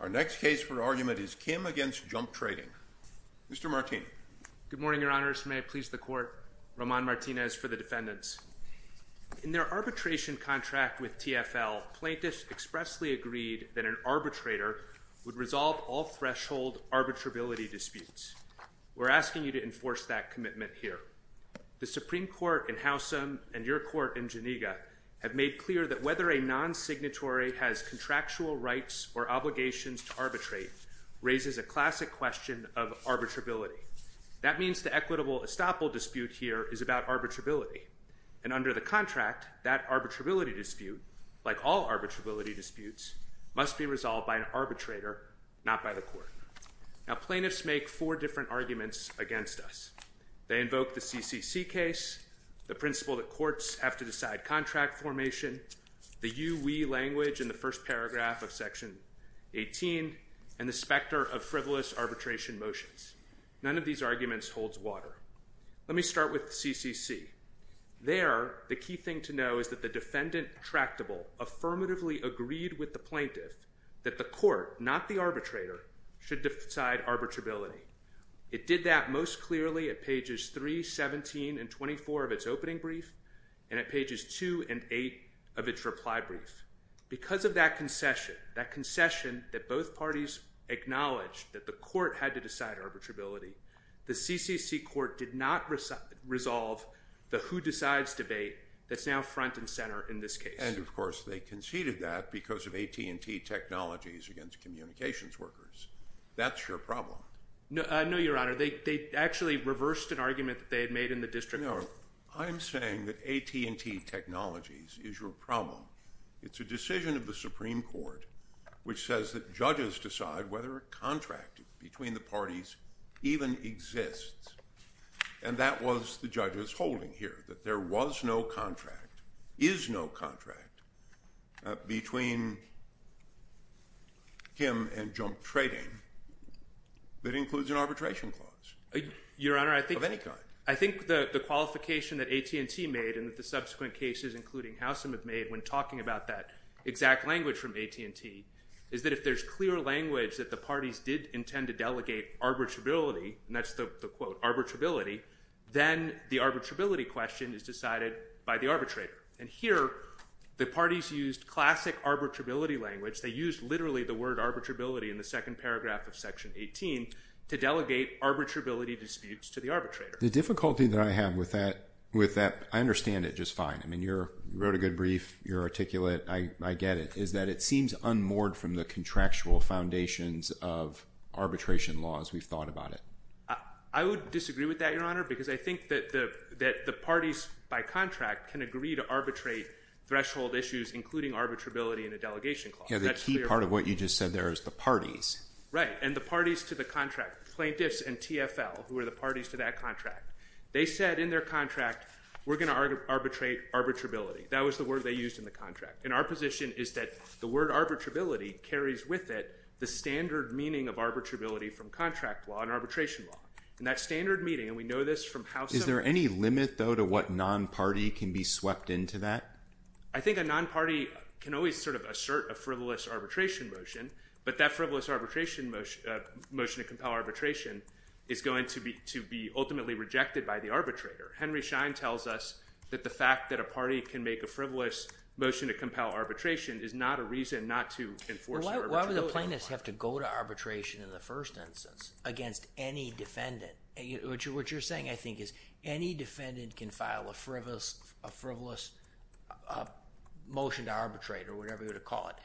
Our next case for argument is Kim v. Jump Trading. Mr. Martinez. Good morning, Your Honor. May I please the Court? Roman Martinez for the defendants. In their arbitration contract with TFL, plaintiffs expressly agreed that an arbitrator would resolve all threshold arbitrability disputes. We're asking you to enforce that commitment here. The Supreme Court in Housham and your court in Geneva have made clear that whether a non-signatory has contractual rights or obligations to arbitrate raises a classic question of arbitrability. That means the equitable estoppel dispute here is about arbitrability. And under the contract, that arbitrability dispute, like all arbitrability disputes, must be resolved by an arbitrator, not by the court. Now, plaintiffs make four different arguments against us. They invoke the CCC case, the principle that courts have to decide contract formation, the you-we language in the first paragraph of section 18, and the specter of frivolous arbitration motions. None of these arguments holds water. Let me start with the CCC. There, the key thing to know is that the defendant tractable affirmatively agreed with the plaintiff that the court, not the arbitrator, should decide arbitrability. It did that most clearly at pages 3, 17, and 24 of its opening brief, and at pages 2 and 8 of its reply brief. Because of that concession, that concession that both parties acknowledged that the court had to decide arbitrability, the CCC court did not resolve the who-decides debate that's now front and center in this case. And of course, they conceded that because of AT&T technologies against communications workers. That's your problem. No, Your Honor, they actually reversed an argument that they had made in the district court. No, I'm saying that AT&T technologies is your problem. It's a decision of the Supreme Court which says that judges decide whether a contract between the parties even exists. And that was the judge's holding here, that there was no contract, is no contract between him and Junk Trading that includes an arbitration clause of any kind. I think the qualification that AT&T made and that the subsequent cases including Howsam have made when talking about that exact language from AT&T is that if there's clear language that the parties did intend to delegate arbitrability, and that's the quote arbitrability, then the arbitrability question is decided by the arbitrator. And here, the parties used classic arbitrability language. They used literally the word arbitrability in the second paragraph of section 18 to delegate arbitrability disputes to the arbitrator. The difficulty that I have with that, I understand it just fine. I mean, you wrote a good brief, you're articulate, I get it, is that it seems unmoored from the contractual foundations of arbitration laws, we've thought about it. I would disagree with that, Your Honor, because I think that the parties by contract can agree to arbitrate threshold issues including arbitrability in a delegation clause. Yeah, the key part of what you just said there is the parties. Right, and the parties to the contract, plaintiffs and TFL, who are the parties to that contract, they said in their contract, we're going to arbitrate arbitrability. That was the word they used in the contract. And our position is that the word arbitrability carries with it the standard meaning of arbitrability from contract law and arbitration law. And that standard meaning, and we know this from how some of the- Is there any limit though to what non-party can be swept into that? I think a non-party can always sort of assert a frivolous arbitration motion, but that frivolous arbitration motion to compel arbitration is going to be ultimately rejected by the arbitrator. Henry Schein tells us that the fact that a party can make a frivolous motion to compel arbitration is not a reason not to enforce the arbitration law. Why would the plaintiffs have to go to arbitration in the first instance against any defendant? What you're saying, I think, is any defendant can file a frivolous motion to arbitrate or whatever you would call it.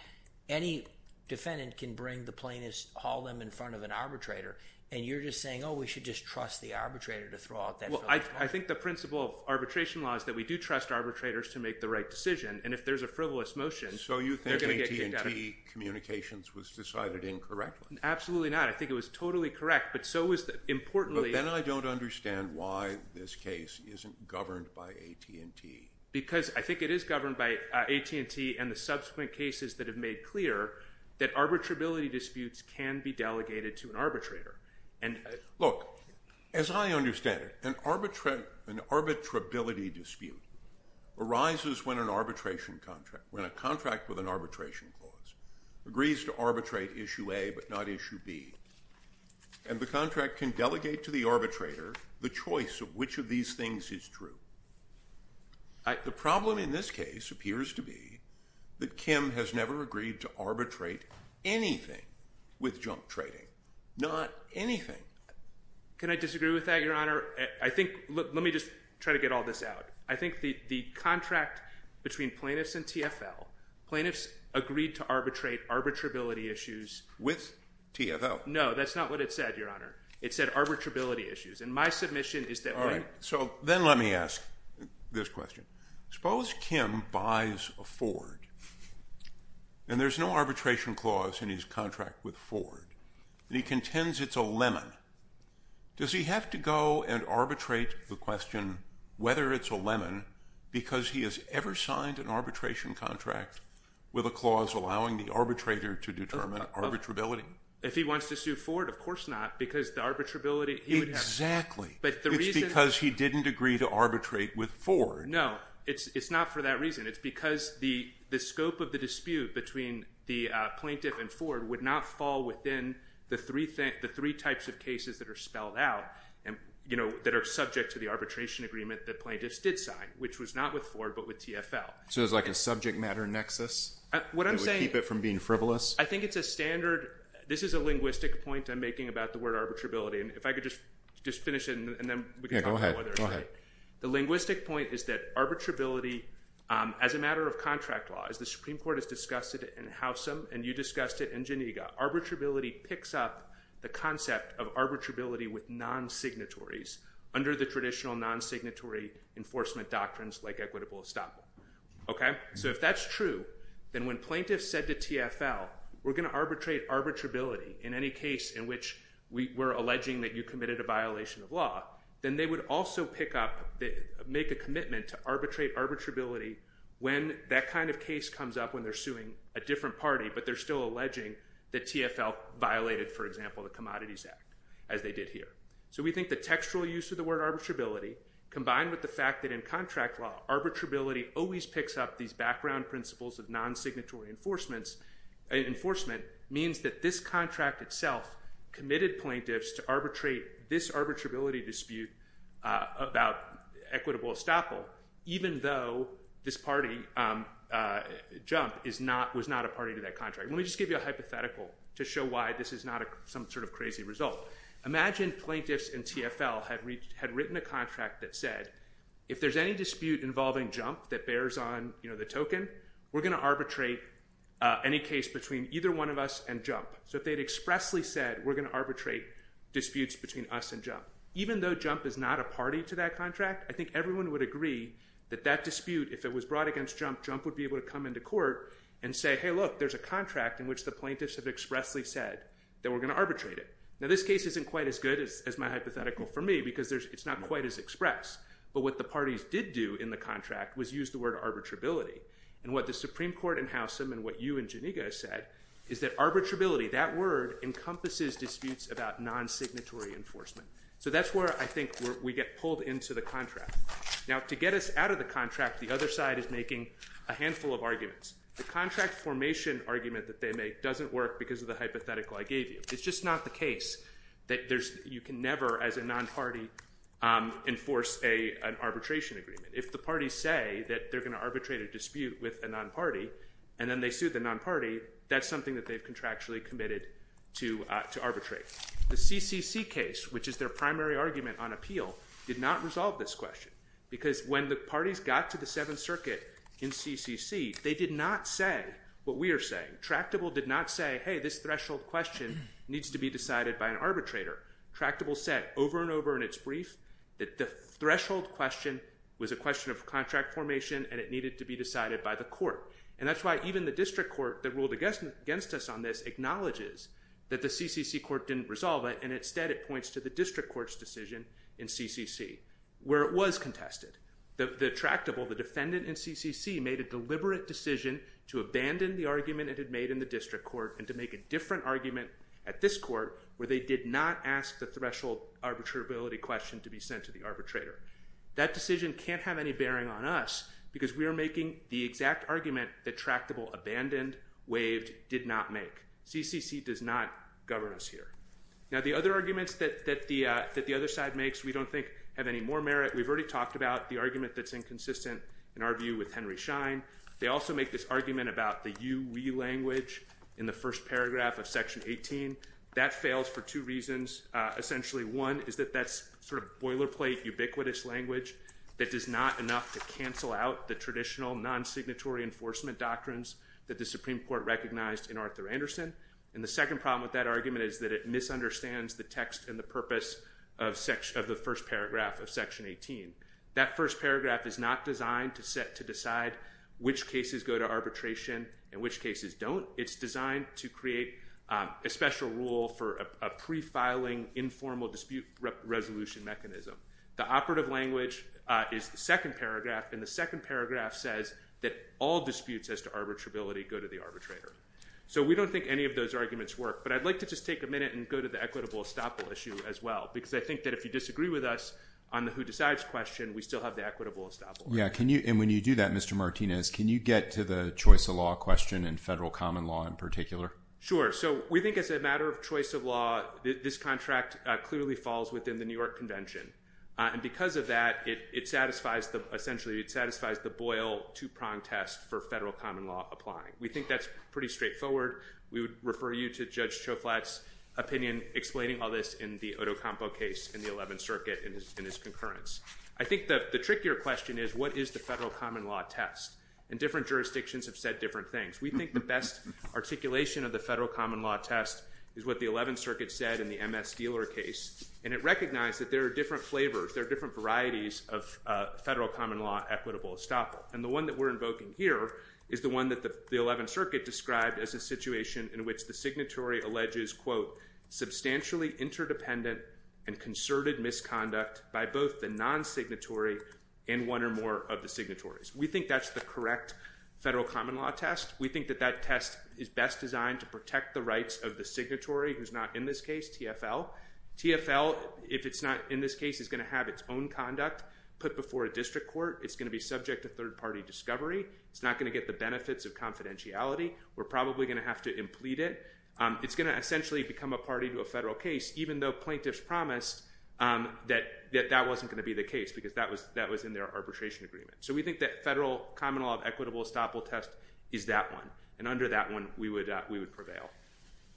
Any defendant can bring the plaintiffs, haul them in front of an arbitrator. And you're just saying, oh, we should just trust the arbitrator to throw out that- Well, I think the principle of arbitration law is that we do trust arbitrators to make the right decision. And if there's a frivolous motion- So you think AT&T communications was decided incorrectly? Absolutely not. I think it was totally correct, but so was the importantly- But then I don't understand why this case isn't governed by AT&T. Because I think it is governed by AT&T and the subsequent cases that have made clear that arbitrability disputes can be delegated to an arbitrator and- Look, as I understand it, an arbitrability dispute arises when an arbitration contract, when a contract with an arbitration clause agrees to arbitrate issue A but not issue B. And the contract can delegate to the arbitrator the choice of which of these things is true. The problem in this case appears to be that Kim has never agreed to arbitrate anything with junk trading. Not anything. Can I disagree with that, Your Honor? I think, let me just try to get all this out. I think the contract between plaintiffs and TFL, plaintiffs agreed to arbitrate arbitrability issues- With TFL. No, that's not what it said, Your Honor. It said arbitrability issues. And my submission is that- All right, so then let me ask this question. Suppose Kim buys a Ford, and there's no arbitration clause in his contract with Ford. And he contends it's a lemon. Does he have to go and arbitrate the question whether it's a lemon because he has ever signed an arbitration contract with a clause allowing the arbitrator to determine arbitrability? If he wants to sue Ford, of course not, because the arbitrability, he would- Exactly. It's because he didn't agree to arbitrate with Ford. No, it's not for that reason. It's because the scope of the dispute between the plaintiff and Ford would not fall within the three types of cases that are spelled out that are subject to the arbitration agreement that plaintiffs did sign, which was not with Ford, but with TFL. So it's like a subject matter nexus that would keep it from being frivolous? I think it's a standard. This is a linguistic point I'm making about the word arbitrability. And if I could just finish it, and then we can talk about others. The linguistic point is that arbitrability, as a matter of contract law, as the Supreme Court has discussed it in Housam, and you discussed it in Geneva, arbitrability picks up the concept of arbitrability with non-signatories under the traditional non-signatory enforcement doctrines like equitable estoppel, okay? So if that's true, then when plaintiffs said to TFL, we're going to arbitrate arbitrability in any case in which we're alleging that you committed a violation of law, then they would also pick up, make a commitment to arbitrate arbitrability when that kind of case comes up when they're suing a different party, but they're still alleging that TFL violated, for example, the Commodities Act, as they did here. So we think the textual use of the word arbitrability combined with the fact that in contract law, arbitrability always picks up these background principles of non-signatory enforcement means that this contract itself committed plaintiffs to arbitrate this arbitrability dispute about equitable estoppel, even though this party, JUMP, is not, was not a party to that contract. Let me just give you a hypothetical to show why this is not some sort of crazy result. Imagine plaintiffs and TFL had written a contract that said, if there's any dispute involving JUMP that bears on, you know, the token, we're going to arbitrate any case between either one of us and JUMP. So if they'd expressly said, we're going to arbitrate disputes between us and JUMP, even though JUMP is not a party to that contract, I think everyone would agree that that dispute, if it was brought against JUMP, JUMP would be able to come into court and say, hey, look, there's a contract in which the plaintiffs have expressly said that we're going to arbitrate it. Now, this case isn't quite as good as my hypothetical for me because it's not quite as express, but what the parties did do in the contract was use the word arbitrability. And what the Supreme Court in Housham and what you and Janneika said is that arbitrability, that word encompasses disputes about non-signatory enforcement. So that's where I think we get pulled into the contract. Now, to get us out of the contract, the other side is making a handful of arguments. The contract formation argument that they make doesn't work because of the hypothetical I gave you. It's just not the case that there's, you can never, as a non-party, enforce an arbitration agreement. If the parties say that they're going to arbitrate a dispute with a non-party and then they sue the non-party, that's something that they've contractually committed to arbitrate. The CCC case, which is their primary argument on appeal, did not resolve this question because when the parties got to the Seventh Circuit in CCC, they did not say what we are saying. Tractable did not say, hey, this threshold question needs to be decided by an arbitrator. Tractable said over and over in its brief that the threshold question was a question of contract formation and it needed to be decided by the court. And that's why even the district court that ruled against us on this acknowledges that the CCC court didn't resolve it and instead it points to the district court's decision in CCC where it was contested. The tractable, the defendant in CCC, made a deliberate decision to abandon the argument it had made in the district court and to make a different argument at this court where they did not ask the threshold arbitrability question to be sent to the arbitrator. That decision can't have any bearing on us because we are making the exact argument that tractable abandoned, waived, did not make. CCC does not govern us here. Now the other arguments that the other side makes we don't think have any more merit. We've already talked about the argument that's inconsistent in our view with Henry Schein. They also make this argument about the you, we language in the first paragraph of Section 18. That fails for two reasons. Essentially, one is that that's sort of boilerplate ubiquitous language that does not enough to cancel out the traditional non-signatory enforcement doctrines that the Supreme Court recognized in Arthur Anderson. And the second problem with that argument is that it misunderstands the text and the purpose of the first paragraph of Section 18. That first paragraph is not designed to set to decide which cases go to arbitration and which cases don't. It's designed to create a special rule for a pre-filing informal dispute resolution mechanism. The operative language is the second paragraph and the second paragraph says that all disputes as to arbitrability go to the arbitrator. So we don't think any of those arguments work. But I'd like to just take a minute and go to the equitable estoppel issue as well. Because I think that if you disagree with us on the who decides question, we still have the equitable estoppel. Yeah. And when you do that, Mr. Martinez, can you get to the choice of law question in federal common law in particular? Sure. So we think as a matter of choice of law, this contract clearly falls within the New York Convention. And because of that, it satisfies the, essentially, it satisfies the Boyle two-prong test for federal common law applying. We think that's pretty straightforward. We would refer you to Judge Choflat's opinion explaining all this in the Otocompo case in the 11th Circuit in his concurrence. I think the trickier question is what is the federal common law test? And different jurisdictions have said different things. We think the best articulation of the federal common law test is what the 11th Circuit said in the MS Dealer case. And it recognized that there are different flavors, there are different varieties of federal common law equitable estoppel. And the one that we're invoking here is the one that the 11th Circuit described as a situation in which the signatory alleges, quote, substantially interdependent and concerted misconduct by both the non-signatory and one or more of the signatories. We think that's the correct federal common law test. We think that that test is best designed to protect the rights of the signatory, who's not in this case, TFL. TFL, if it's not in this case, is going to have its own conduct put before a district court. It's going to be subject to third party discovery. It's not going to get the benefits of confidentiality. We're probably going to have to implete it. It's going to essentially become a party to a federal case, even though plaintiffs promised that that wasn't going to be the case because that was that was in their arbitration agreement. So we think that federal common law equitable estoppel test is that one. And under that one, we would we would prevail.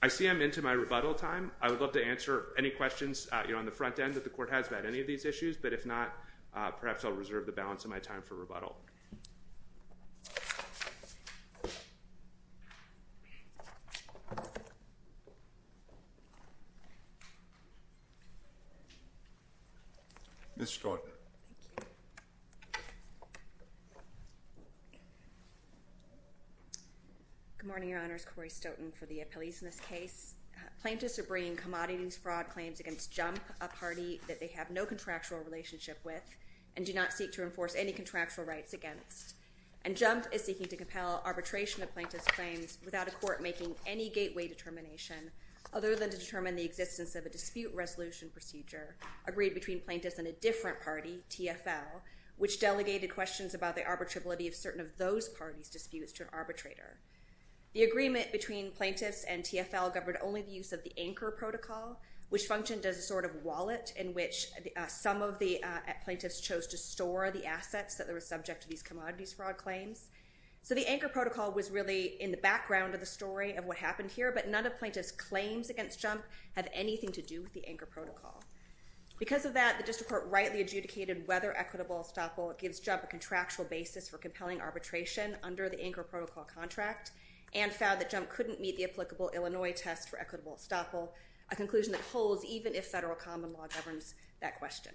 I see I'm into my rebuttal time. I would love to answer any questions on the front end that the court has about any of these issues, but if not, perhaps I'll reserve the balance of my time for rebuttal. Ms. Scott. Good morning, Your Honors. Corey Stoughton for the appellees in this case. Plaintiffs are bringing commodities fraud claims against jump a party that they have no contractual relationship with and do not seek to enforce any contractual rights against and jump is seeking to compel arbitration of plaintiff's claims without a court making any gateway determination other than to determine the existence of a dispute resolution procedure agreed between plaintiffs and a different party, TFL, which delegated questions about the arbitrability of certain of those parties disputes to an arbitrator. The agreement between plaintiffs and TFL governed only the use of the anchor protocol, which functioned as a sort of wallet in which some of the plaintiffs chose to store the assets that were subject to these commodities fraud claims. So the anchor protocol was really in the background of the story of what happened here, but none of plaintiff's claims against jump have anything to do with the anchor protocol. Because of that, the district court rightly adjudicated whether equitable estoppel gives jump a contractual basis for compelling arbitration under the anchor protocol contract and found that jump couldn't meet the applicable Illinois test for equitable estoppel, a conclusion that holds even if federal common law governs that question.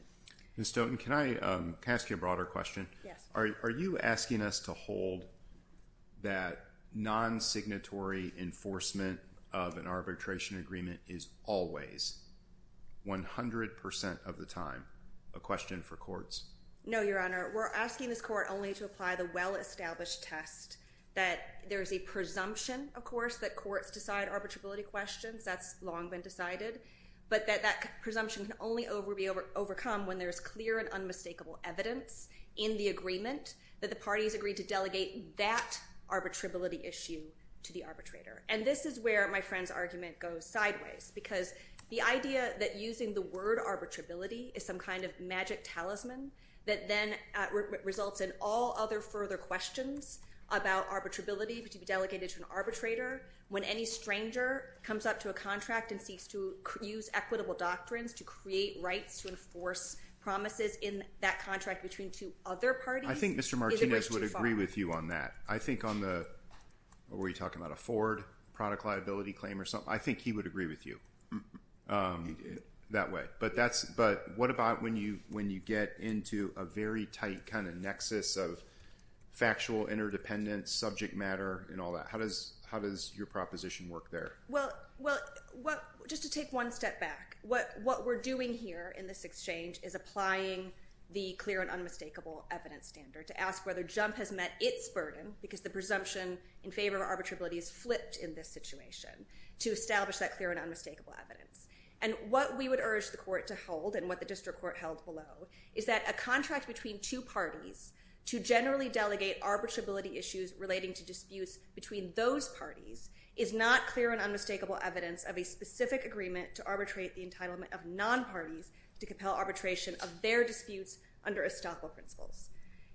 Ms. Stoughton, can I ask you a broader question? Yes. Are you asking us to hold that non-signatory enforcement of an arbitration agreement is always 100% of the time a question for courts? No, Your Honor. We're asking this court only to apply the well-established test that there's a presumption, of course, that courts decide arbitrability questions. That's long been decided, but that that presumption can only be overcome when there's clear and unmistakable evidence in the agreement that the parties agreed to delegate that arbitrability issue to the arbitrator. And this is where my friend's argument goes sideways because the idea that using the word arbitrability is some kind of magic talisman that then results in all other further questions about arbitrability to be delegated to an arbitrator when any stranger comes up to a contract and seeks to use equitable doctrines to create rights to enforce promises in that contract between two other parties is a bit too far. I think Mr. Martinez would agree with you on that. I think on the, what were you talking about, a Ford product liability claim or something, I think he would agree with you that way. But that's, but what about when you get into a very tight kind of nexus of factual interdependence, subject matter, and all that? How does your proposition work there? Well, just to take one step back, what we're doing here in this exchange is applying the clear and unmistakable evidence standard to ask whether Jump has met its burden because the presumption in favor of arbitrability is flipped in this situation to establish that clear and unmistakable evidence. And what we would urge the court to hold and what the district court held below is that a contract between two parties to generally delegate arbitrability issues relating to disputes between those parties is not clear and unmistakable evidence of a specific agreement to arbitrate the entitlement of non-parties to compel arbitration of their disputes under estoppel principles.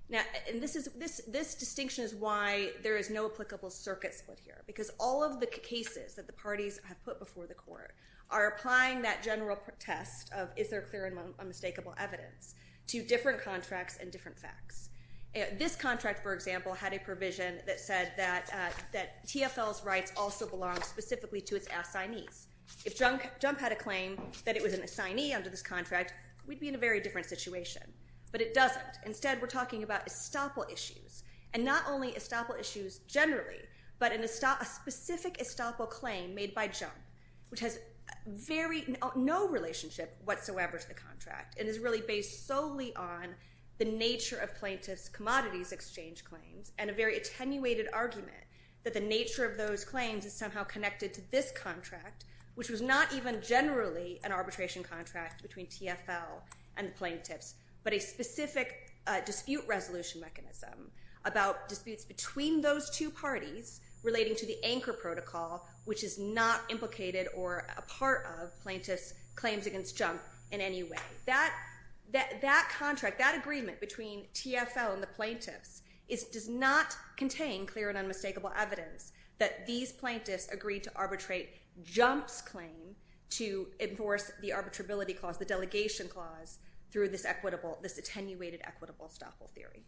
Now, and this distinction is why there is no applicable circuit split here because all of the cases that the parties have put before the court are applying that general test of is there clear and unmistakable evidence to different contracts and different facts. This contract, for example, had a provision that said that TFL's rights also belong specifically to its assignees. If Jump had a claim that it was an assignee under this contract, we'd be in a very different situation. But it doesn't. Instead, we're talking about estoppel issues and not only estoppel issues generally but a specific estoppel claim made by Jump which has very no relationship whatsoever to the contract and is really based solely on the nature of plaintiff's commodities exchange claims and a very attenuated argument that the nature of those claims is somehow connected to this contract which was not even generally an arbitration contract between TFL and plaintiffs but a specific dispute resolution mechanism about disputes between those two parties relating to the anchor protocol which is not implicated or a part of plaintiff's claims against Jump in any way. That contract, that agreement between TFL and the plaintiffs does not contain clear and unmistakable evidence that these plaintiffs agreed to arbitrate Jump's claim to enforce the arbitrability clause, the delegation clause through this equitable, this attenuated equitable estoppel theory.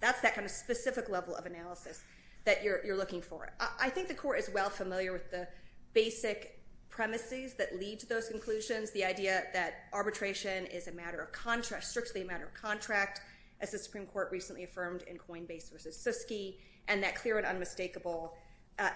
That's that kind of specific level of analysis that you're looking for. I think the court is well familiar with the basic premises that lead to those conclusions, the idea that arbitration is a matter of contract, strictly a matter of contract as the Supreme Court recently affirmed in Coinbase versus Siskey and that clear and unmistakable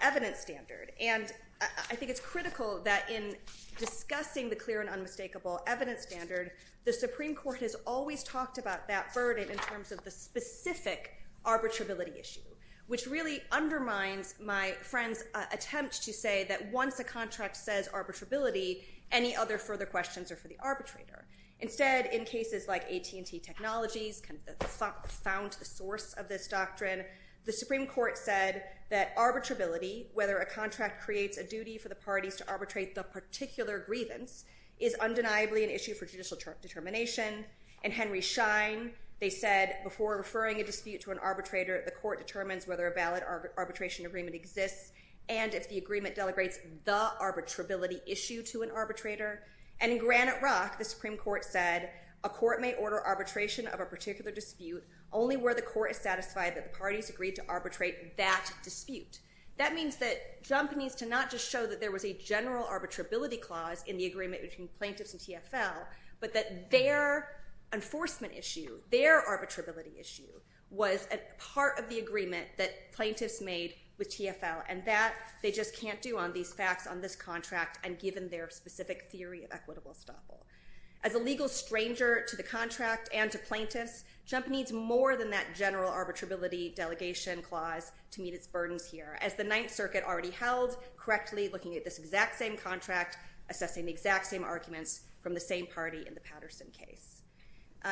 evidence standard. And I think it's critical that in discussing the clear and unmistakable evidence standard, the Supreme Court has always talked about that burden in terms of the specific arbitrability issue which really undermines my friend's attempt to say that once a contract says arbitrability, any other further questions are for the arbitrator. Instead, in cases like AT&T Technologies, kind of the found source of this doctrine, the Supreme Court said that arbitrability, whether a contract creates a duty for the parties to arbitrate the particular grievance is undeniably an issue for judicial determination and Henry Schein, they said before referring a dispute to an arbitrator, the court determines whether a valid arbitration agreement exists and if the agreement delegates the arbitrability issue to an arbitrator. And in Granite Rock, the Supreme Court said, a court may order arbitration of a particular dispute only where the court is satisfied that the parties agreed to arbitrate that dispute. That means that Jump needs to not just show that there was a general arbitrability clause in the agreement between plaintiffs and TFL but that their enforcement issue, their arbitrability issue was a part of the agreement that plaintiffs made with TFL and that they just can't do on these facts on this contract and given their specific theory of equitable estoppel. As a legal stranger to the contract and to plaintiffs, Jump needs more than that general arbitrability delegation clause to meet its burdens here as the Ninth Circuit already held correctly looking at this exact same contract, assessing the exact same arguments from the same party in the Patterson case.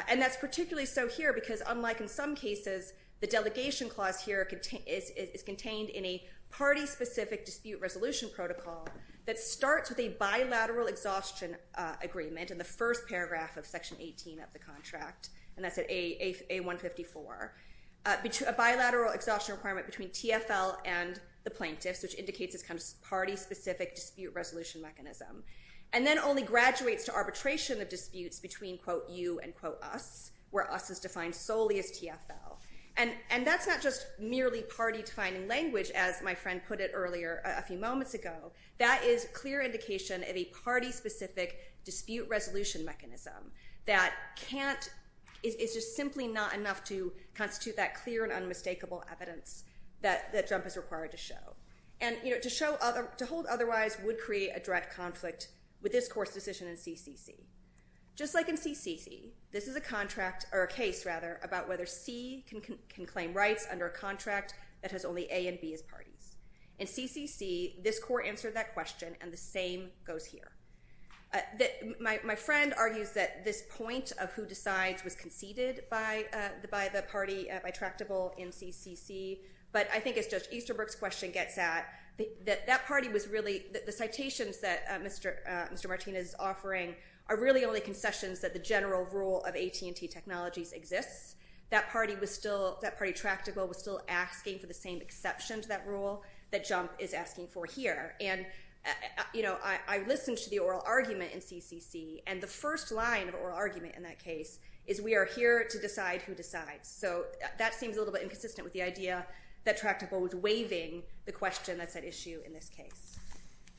And that's particularly so here because unlike in some cases, the delegation clause here is contained in a party-specific dispute resolution protocol that starts with a bilateral exhaustion agreement in the first paragraph of Section 18 of the contract and that's at A154. A bilateral exhaustion requirement between TFL and the plaintiffs which indicates this kind of party-specific dispute resolution mechanism and then only graduates to arbitration of disputes between, quote, you and, quote, us, where us is defined solely as TFL. And that's not just merely party-defining language as my friend put it earlier a few moments ago. That is clear indication of a party-specific dispute resolution mechanism that can't, it's just simply not enough to constitute that clear and unmistakable evidence that Jump is required to show. And, you know, to show other, to hold otherwise would create a direct conflict with this court's decision in CCC. Just like in CCC, this is a contract or a case rather about whether C can claim rights under a contract that has only A and B as parties. In CCC, this court answered that question and the same goes here. My friend argues that this point of who decides was conceded by the party, by Tractable in CCC. But I think as Judge Easterbrook's question gets at, that that party was really, the citations that Mr. Martinez is offering are really only concessions that the general rule of AT&T Technologies exists. That party was still, that party Tractable was still asking for the same exception to that rule that Jump is asking for here. And, you know, I listened to the oral argument in CCC and the first line of oral argument in that case is we are here to decide who decides. So that seems a little bit inconsistent with the idea that Tractable was waiving the question that's at issue in this case.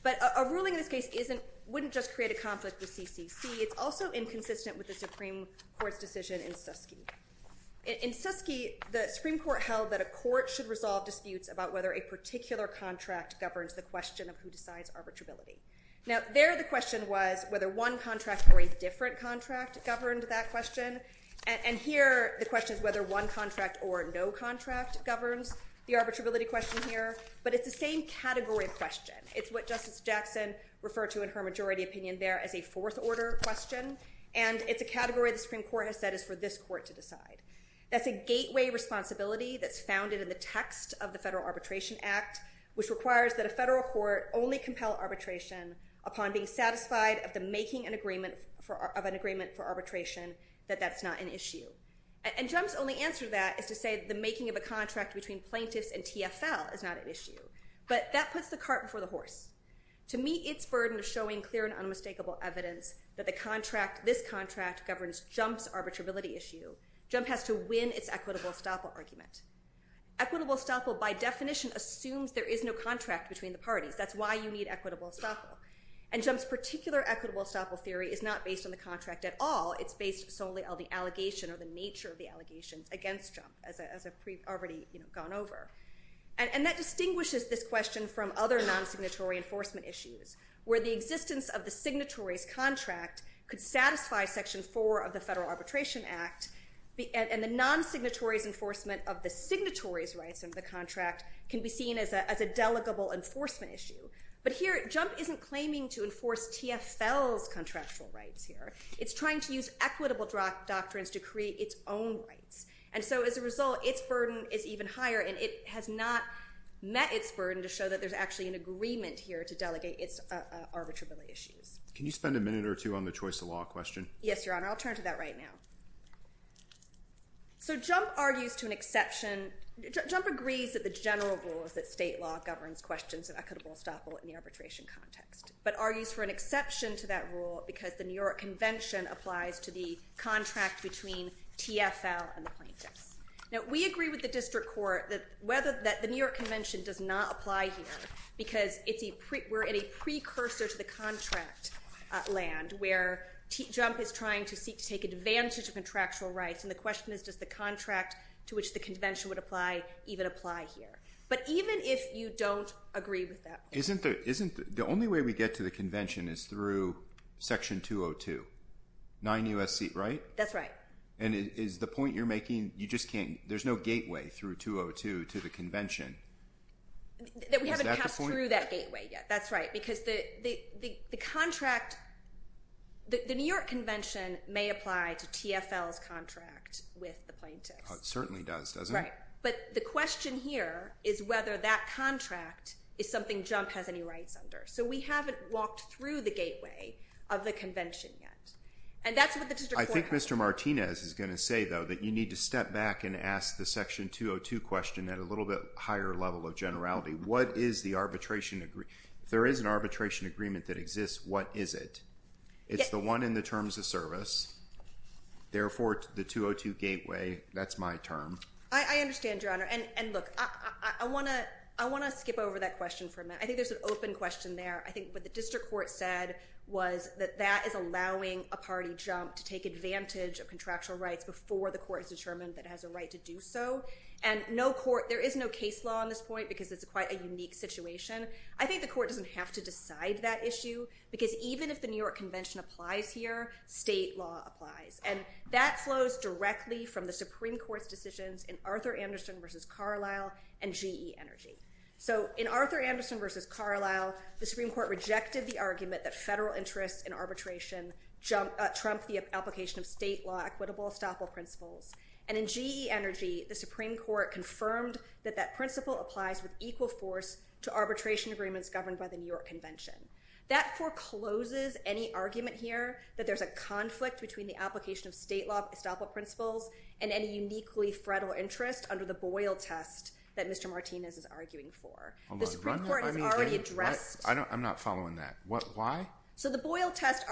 But a ruling in this case isn't, wouldn't just create a conflict with CCC, it's also inconsistent with the Supreme Court's decision in Suskie. In Suskie, the Supreme Court held that a court should resolve disputes about whether a particular contract governs the question of who decides arbitrability. Now, there the question was whether one contract or a different contract governed that question. And here the question is whether one contract or no contract governs the arbitrability question here. But it's the same category of question, it's what Justice Jackson referred to in her majority opinion there as a fourth order question. And it's a category the Supreme Court has said is for this court to decide. That's a gateway responsibility that's founded in the text of the Federal Arbitration Act which requires that a federal court only compel arbitration upon being satisfied of the making an agreement for, of an agreement for arbitration that that's not an issue. And Jump's only answer to that is to say the making of a contract between plaintiffs and TFL is not an issue. But that puts the cart before the horse. To meet its burden of showing clear and unmistakable evidence that the contract, this contract governs Jump's arbitrability issue, Jump has to win its equitable estoppel argument. Equitable estoppel by definition assumes there is no contract between the parties. That's why you need equitable estoppel. And Jump's particular equitable estoppel theory is not based on the contract at all. It's based solely on the allegation or the nature of the allegations against Jump as I've already, you know, gone over. And that distinguishes this question from other non-signatory enforcement issues where the existence of the signatory's contract could satisfy Section 4 of the Federal Arbitration Act and the non-signatory's enforcement of the signatory's rights of the contract can be seen as a, as a delegable enforcement issue. But here Jump isn't claiming to enforce TFL's contractual rights here. It's trying to use equitable doctrines to create its own rights. And so as a result, its burden is even higher and it has not met its burden to show that there's actually an agreement here to delegate its arbitrability issues. Can you spend a minute or two on the choice of law question? Yes, Your Honor. I'll turn to that right now. So Jump argues to an exception, Jump agrees that the general rule is that state law governs questions of equitable estoppel in the arbitration context. But argues for an exception to that rule because the New York Convention applies to the contract between TFL and the plaintiffs. Now we agree with the district court that whether, that the New York Convention does not apply here because it's a pre, we're in a precursor to the contract land where Jump is trying to seek to take advantage of contractual rights. And the question is does the contract to which the convention would apply even apply here? But even if you don't agree with that. Isn't there, isn't, the only way we get to the convention is through section 202, 9 U.S.C., right? That's right. And is the point you're making, you just can't, there's no gateway through 202 to the convention. That we haven't passed through that gateway yet. That's right because the contract, the New York Convention may apply to TFL's contract with the plaintiffs. It certainly does, doesn't it? Right. But the question here is whether that contract is something Jump has any rights under. So we haven't walked through the gateway of the convention yet. And that's what the district court has to say. I think Mr. Martinez is going to say though that you need to step back and ask the section 202 question at a little bit higher level of generality. What is the arbitration, if there is an arbitration agreement that exists, what is it? It's the one in the terms of service. Therefore, the 202 gateway, that's my term. I understand, Your Honor. And look, I want to skip over that question for a minute. I think there's an open question there. I think what the district court said was that that is allowing a party Jump to take advantage of contractual rights before the court is determined that it has a right to do so. And no court, there is no case law on this point because it's quite a unique situation. I think the court doesn't have to decide that issue because even if the New York Convention applies here, state law applies. And that flows directly from the Supreme Court's decisions in Arthur Anderson versus Carlisle and GE Energy. So in Arthur Anderson versus Carlisle, the Supreme Court rejected the argument that federal interests in arbitration trump the application of state law equitable estoppel principles. And in GE Energy, the Supreme Court confirmed that that principle applies with equal force to arbitration agreements governed by the New York Convention. That forecloses any argument here that there's a conflict between the application of state law estoppel principles and any uniquely federal interest under the Boyle test that Mr. Martinez is arguing for. The Supreme Court has already addressed. I'm not following that. Why? So the Boyle test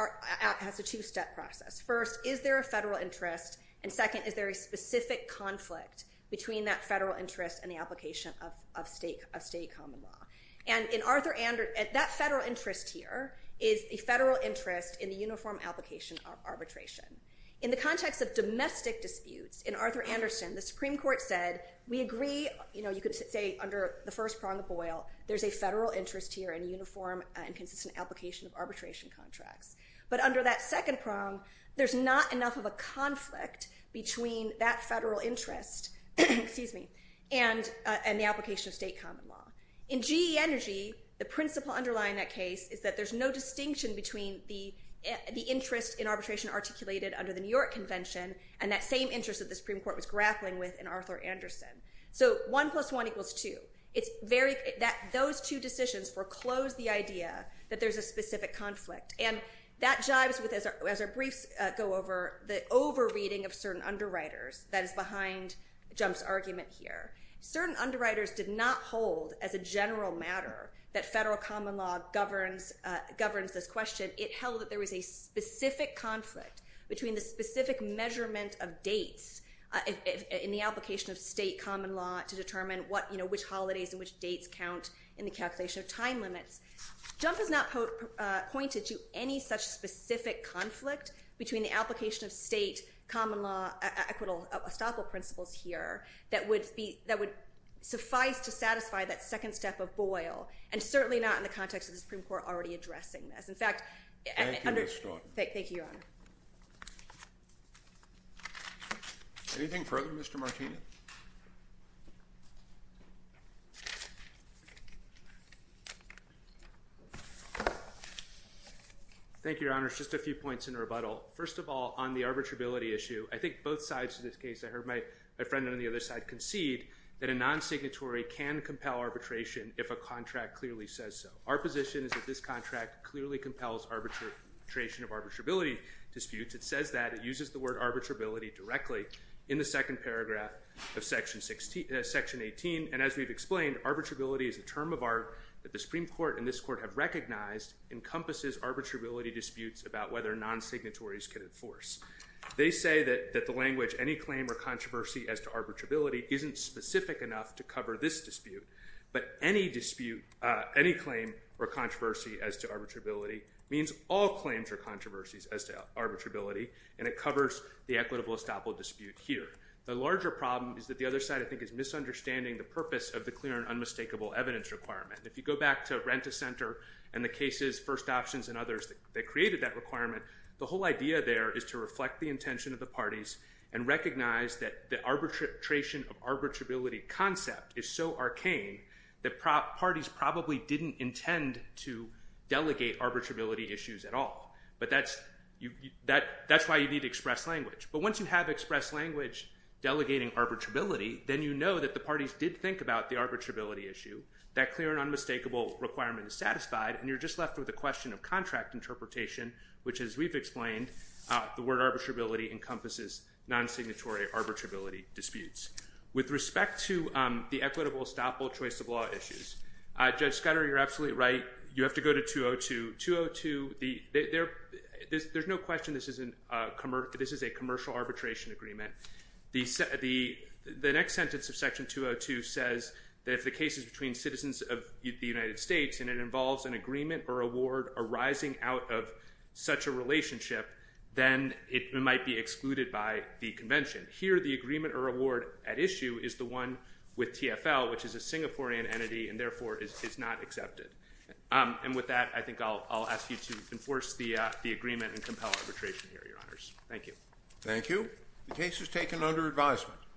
has a two-step process. First, is there a federal interest? And second, is there a specific conflict between that federal interest and the application of state common law? And in Arthur Anderson, that federal interest here is a federal interest in the uniform application of arbitration. In the context of domestic disputes, in Arthur Anderson, the Supreme Court said, we agree, you know, you could say under the first prong of Boyle, there's a federal interest here in uniform and consistent application of arbitration contracts. But under that second prong, there's not enough of a conflict between that federal interest, excuse me, and the application of state common law. In GE Energy, the principle underlying that case is that there's no distinction between the interest in arbitration articulated under the New York Convention and that same interest that the Supreme Court was grappling with in Arthur Anderson. So one plus one equals two. It's very, those two decisions foreclose the idea that there's a specific conflict. And that jives with, as our briefs go over, the over-reading of certain underwriters that is behind Jump's argument here. Certain underwriters did not hold as a general matter that federal common law governs this question. It held that there was a specific conflict between the specific measurement of dates in the application of state common law to determine what, you know, which holidays and which dates count in the calculation of time limits. Jump has not pointed to any such specific conflict between the application of state common law equitable estoppel principles here that would suffice to satisfy that second step of Boyle, and certainly not in the context of the Supreme Court already addressing this. In fact, under- Thank you, Ms. Stoughton. Thank you, Your Honor. Anything further, Mr. Martino? Thank you, Your Honor. Just a few points in rebuttal. First of all, on the arbitrability issue, I think both sides of this case, I heard my friend on the other side concede that a non-signatory can compel arbitration if a contract clearly says so. Our position is that this contract clearly compels arbitration of arbitrability disputes. It says that. It uses the word arbitrability directly in the second paragraph of Section 18. And as we've explained, arbitrability is a term of art that the Supreme Court and this Court have recognized encompasses arbitrability disputes about whether non-signatories can enforce. They say that the language, any claim or controversy as to arbitrability isn't specific enough to cover this dispute. But any dispute, any claim or controversy as to arbitrability means all claims or controversies as to arbitrability. And it covers the equitable estoppel dispute here. The larger problem is that the other side, I think, is misunderstanding the purpose of the clear and unmistakable evidence requirement. If you go back to Renta Center and the cases, First Options and others that created that requirement, the whole idea there is to reflect the intention of the parties and recognize that the arbitration of arbitrability concept is so arcane that parties probably didn't intend to delegate arbitrability issues at all. But that's why you need to express language. But once you have expressed language delegating arbitrability, then you know that the parties did think about the arbitrability issue, that clear and unmistakable requirement is satisfied, and you're just left with a question of contract interpretation, which as we've explained, the word arbitrability encompasses non-signatory arbitrability disputes. With respect to the equitable estoppel choice of law issues, Judge Scuddery, you're absolutely right, you have to go to 202. 202, there's no question this is a commercial arbitration agreement. The next sentence of Section 202 says that if the case is between citizens of the United States and it involves an agreement or award arising out of such a relationship, then it might be excluded by the convention. Here, the agreement or award at issue is the one with TFL, which is a Singaporean entity and therefore is not accepted. And with that, I think I'll ask you to enforce the agreement and compel arbitration here, Your Honors. Thank you. Thank you. The case is taken under advisement.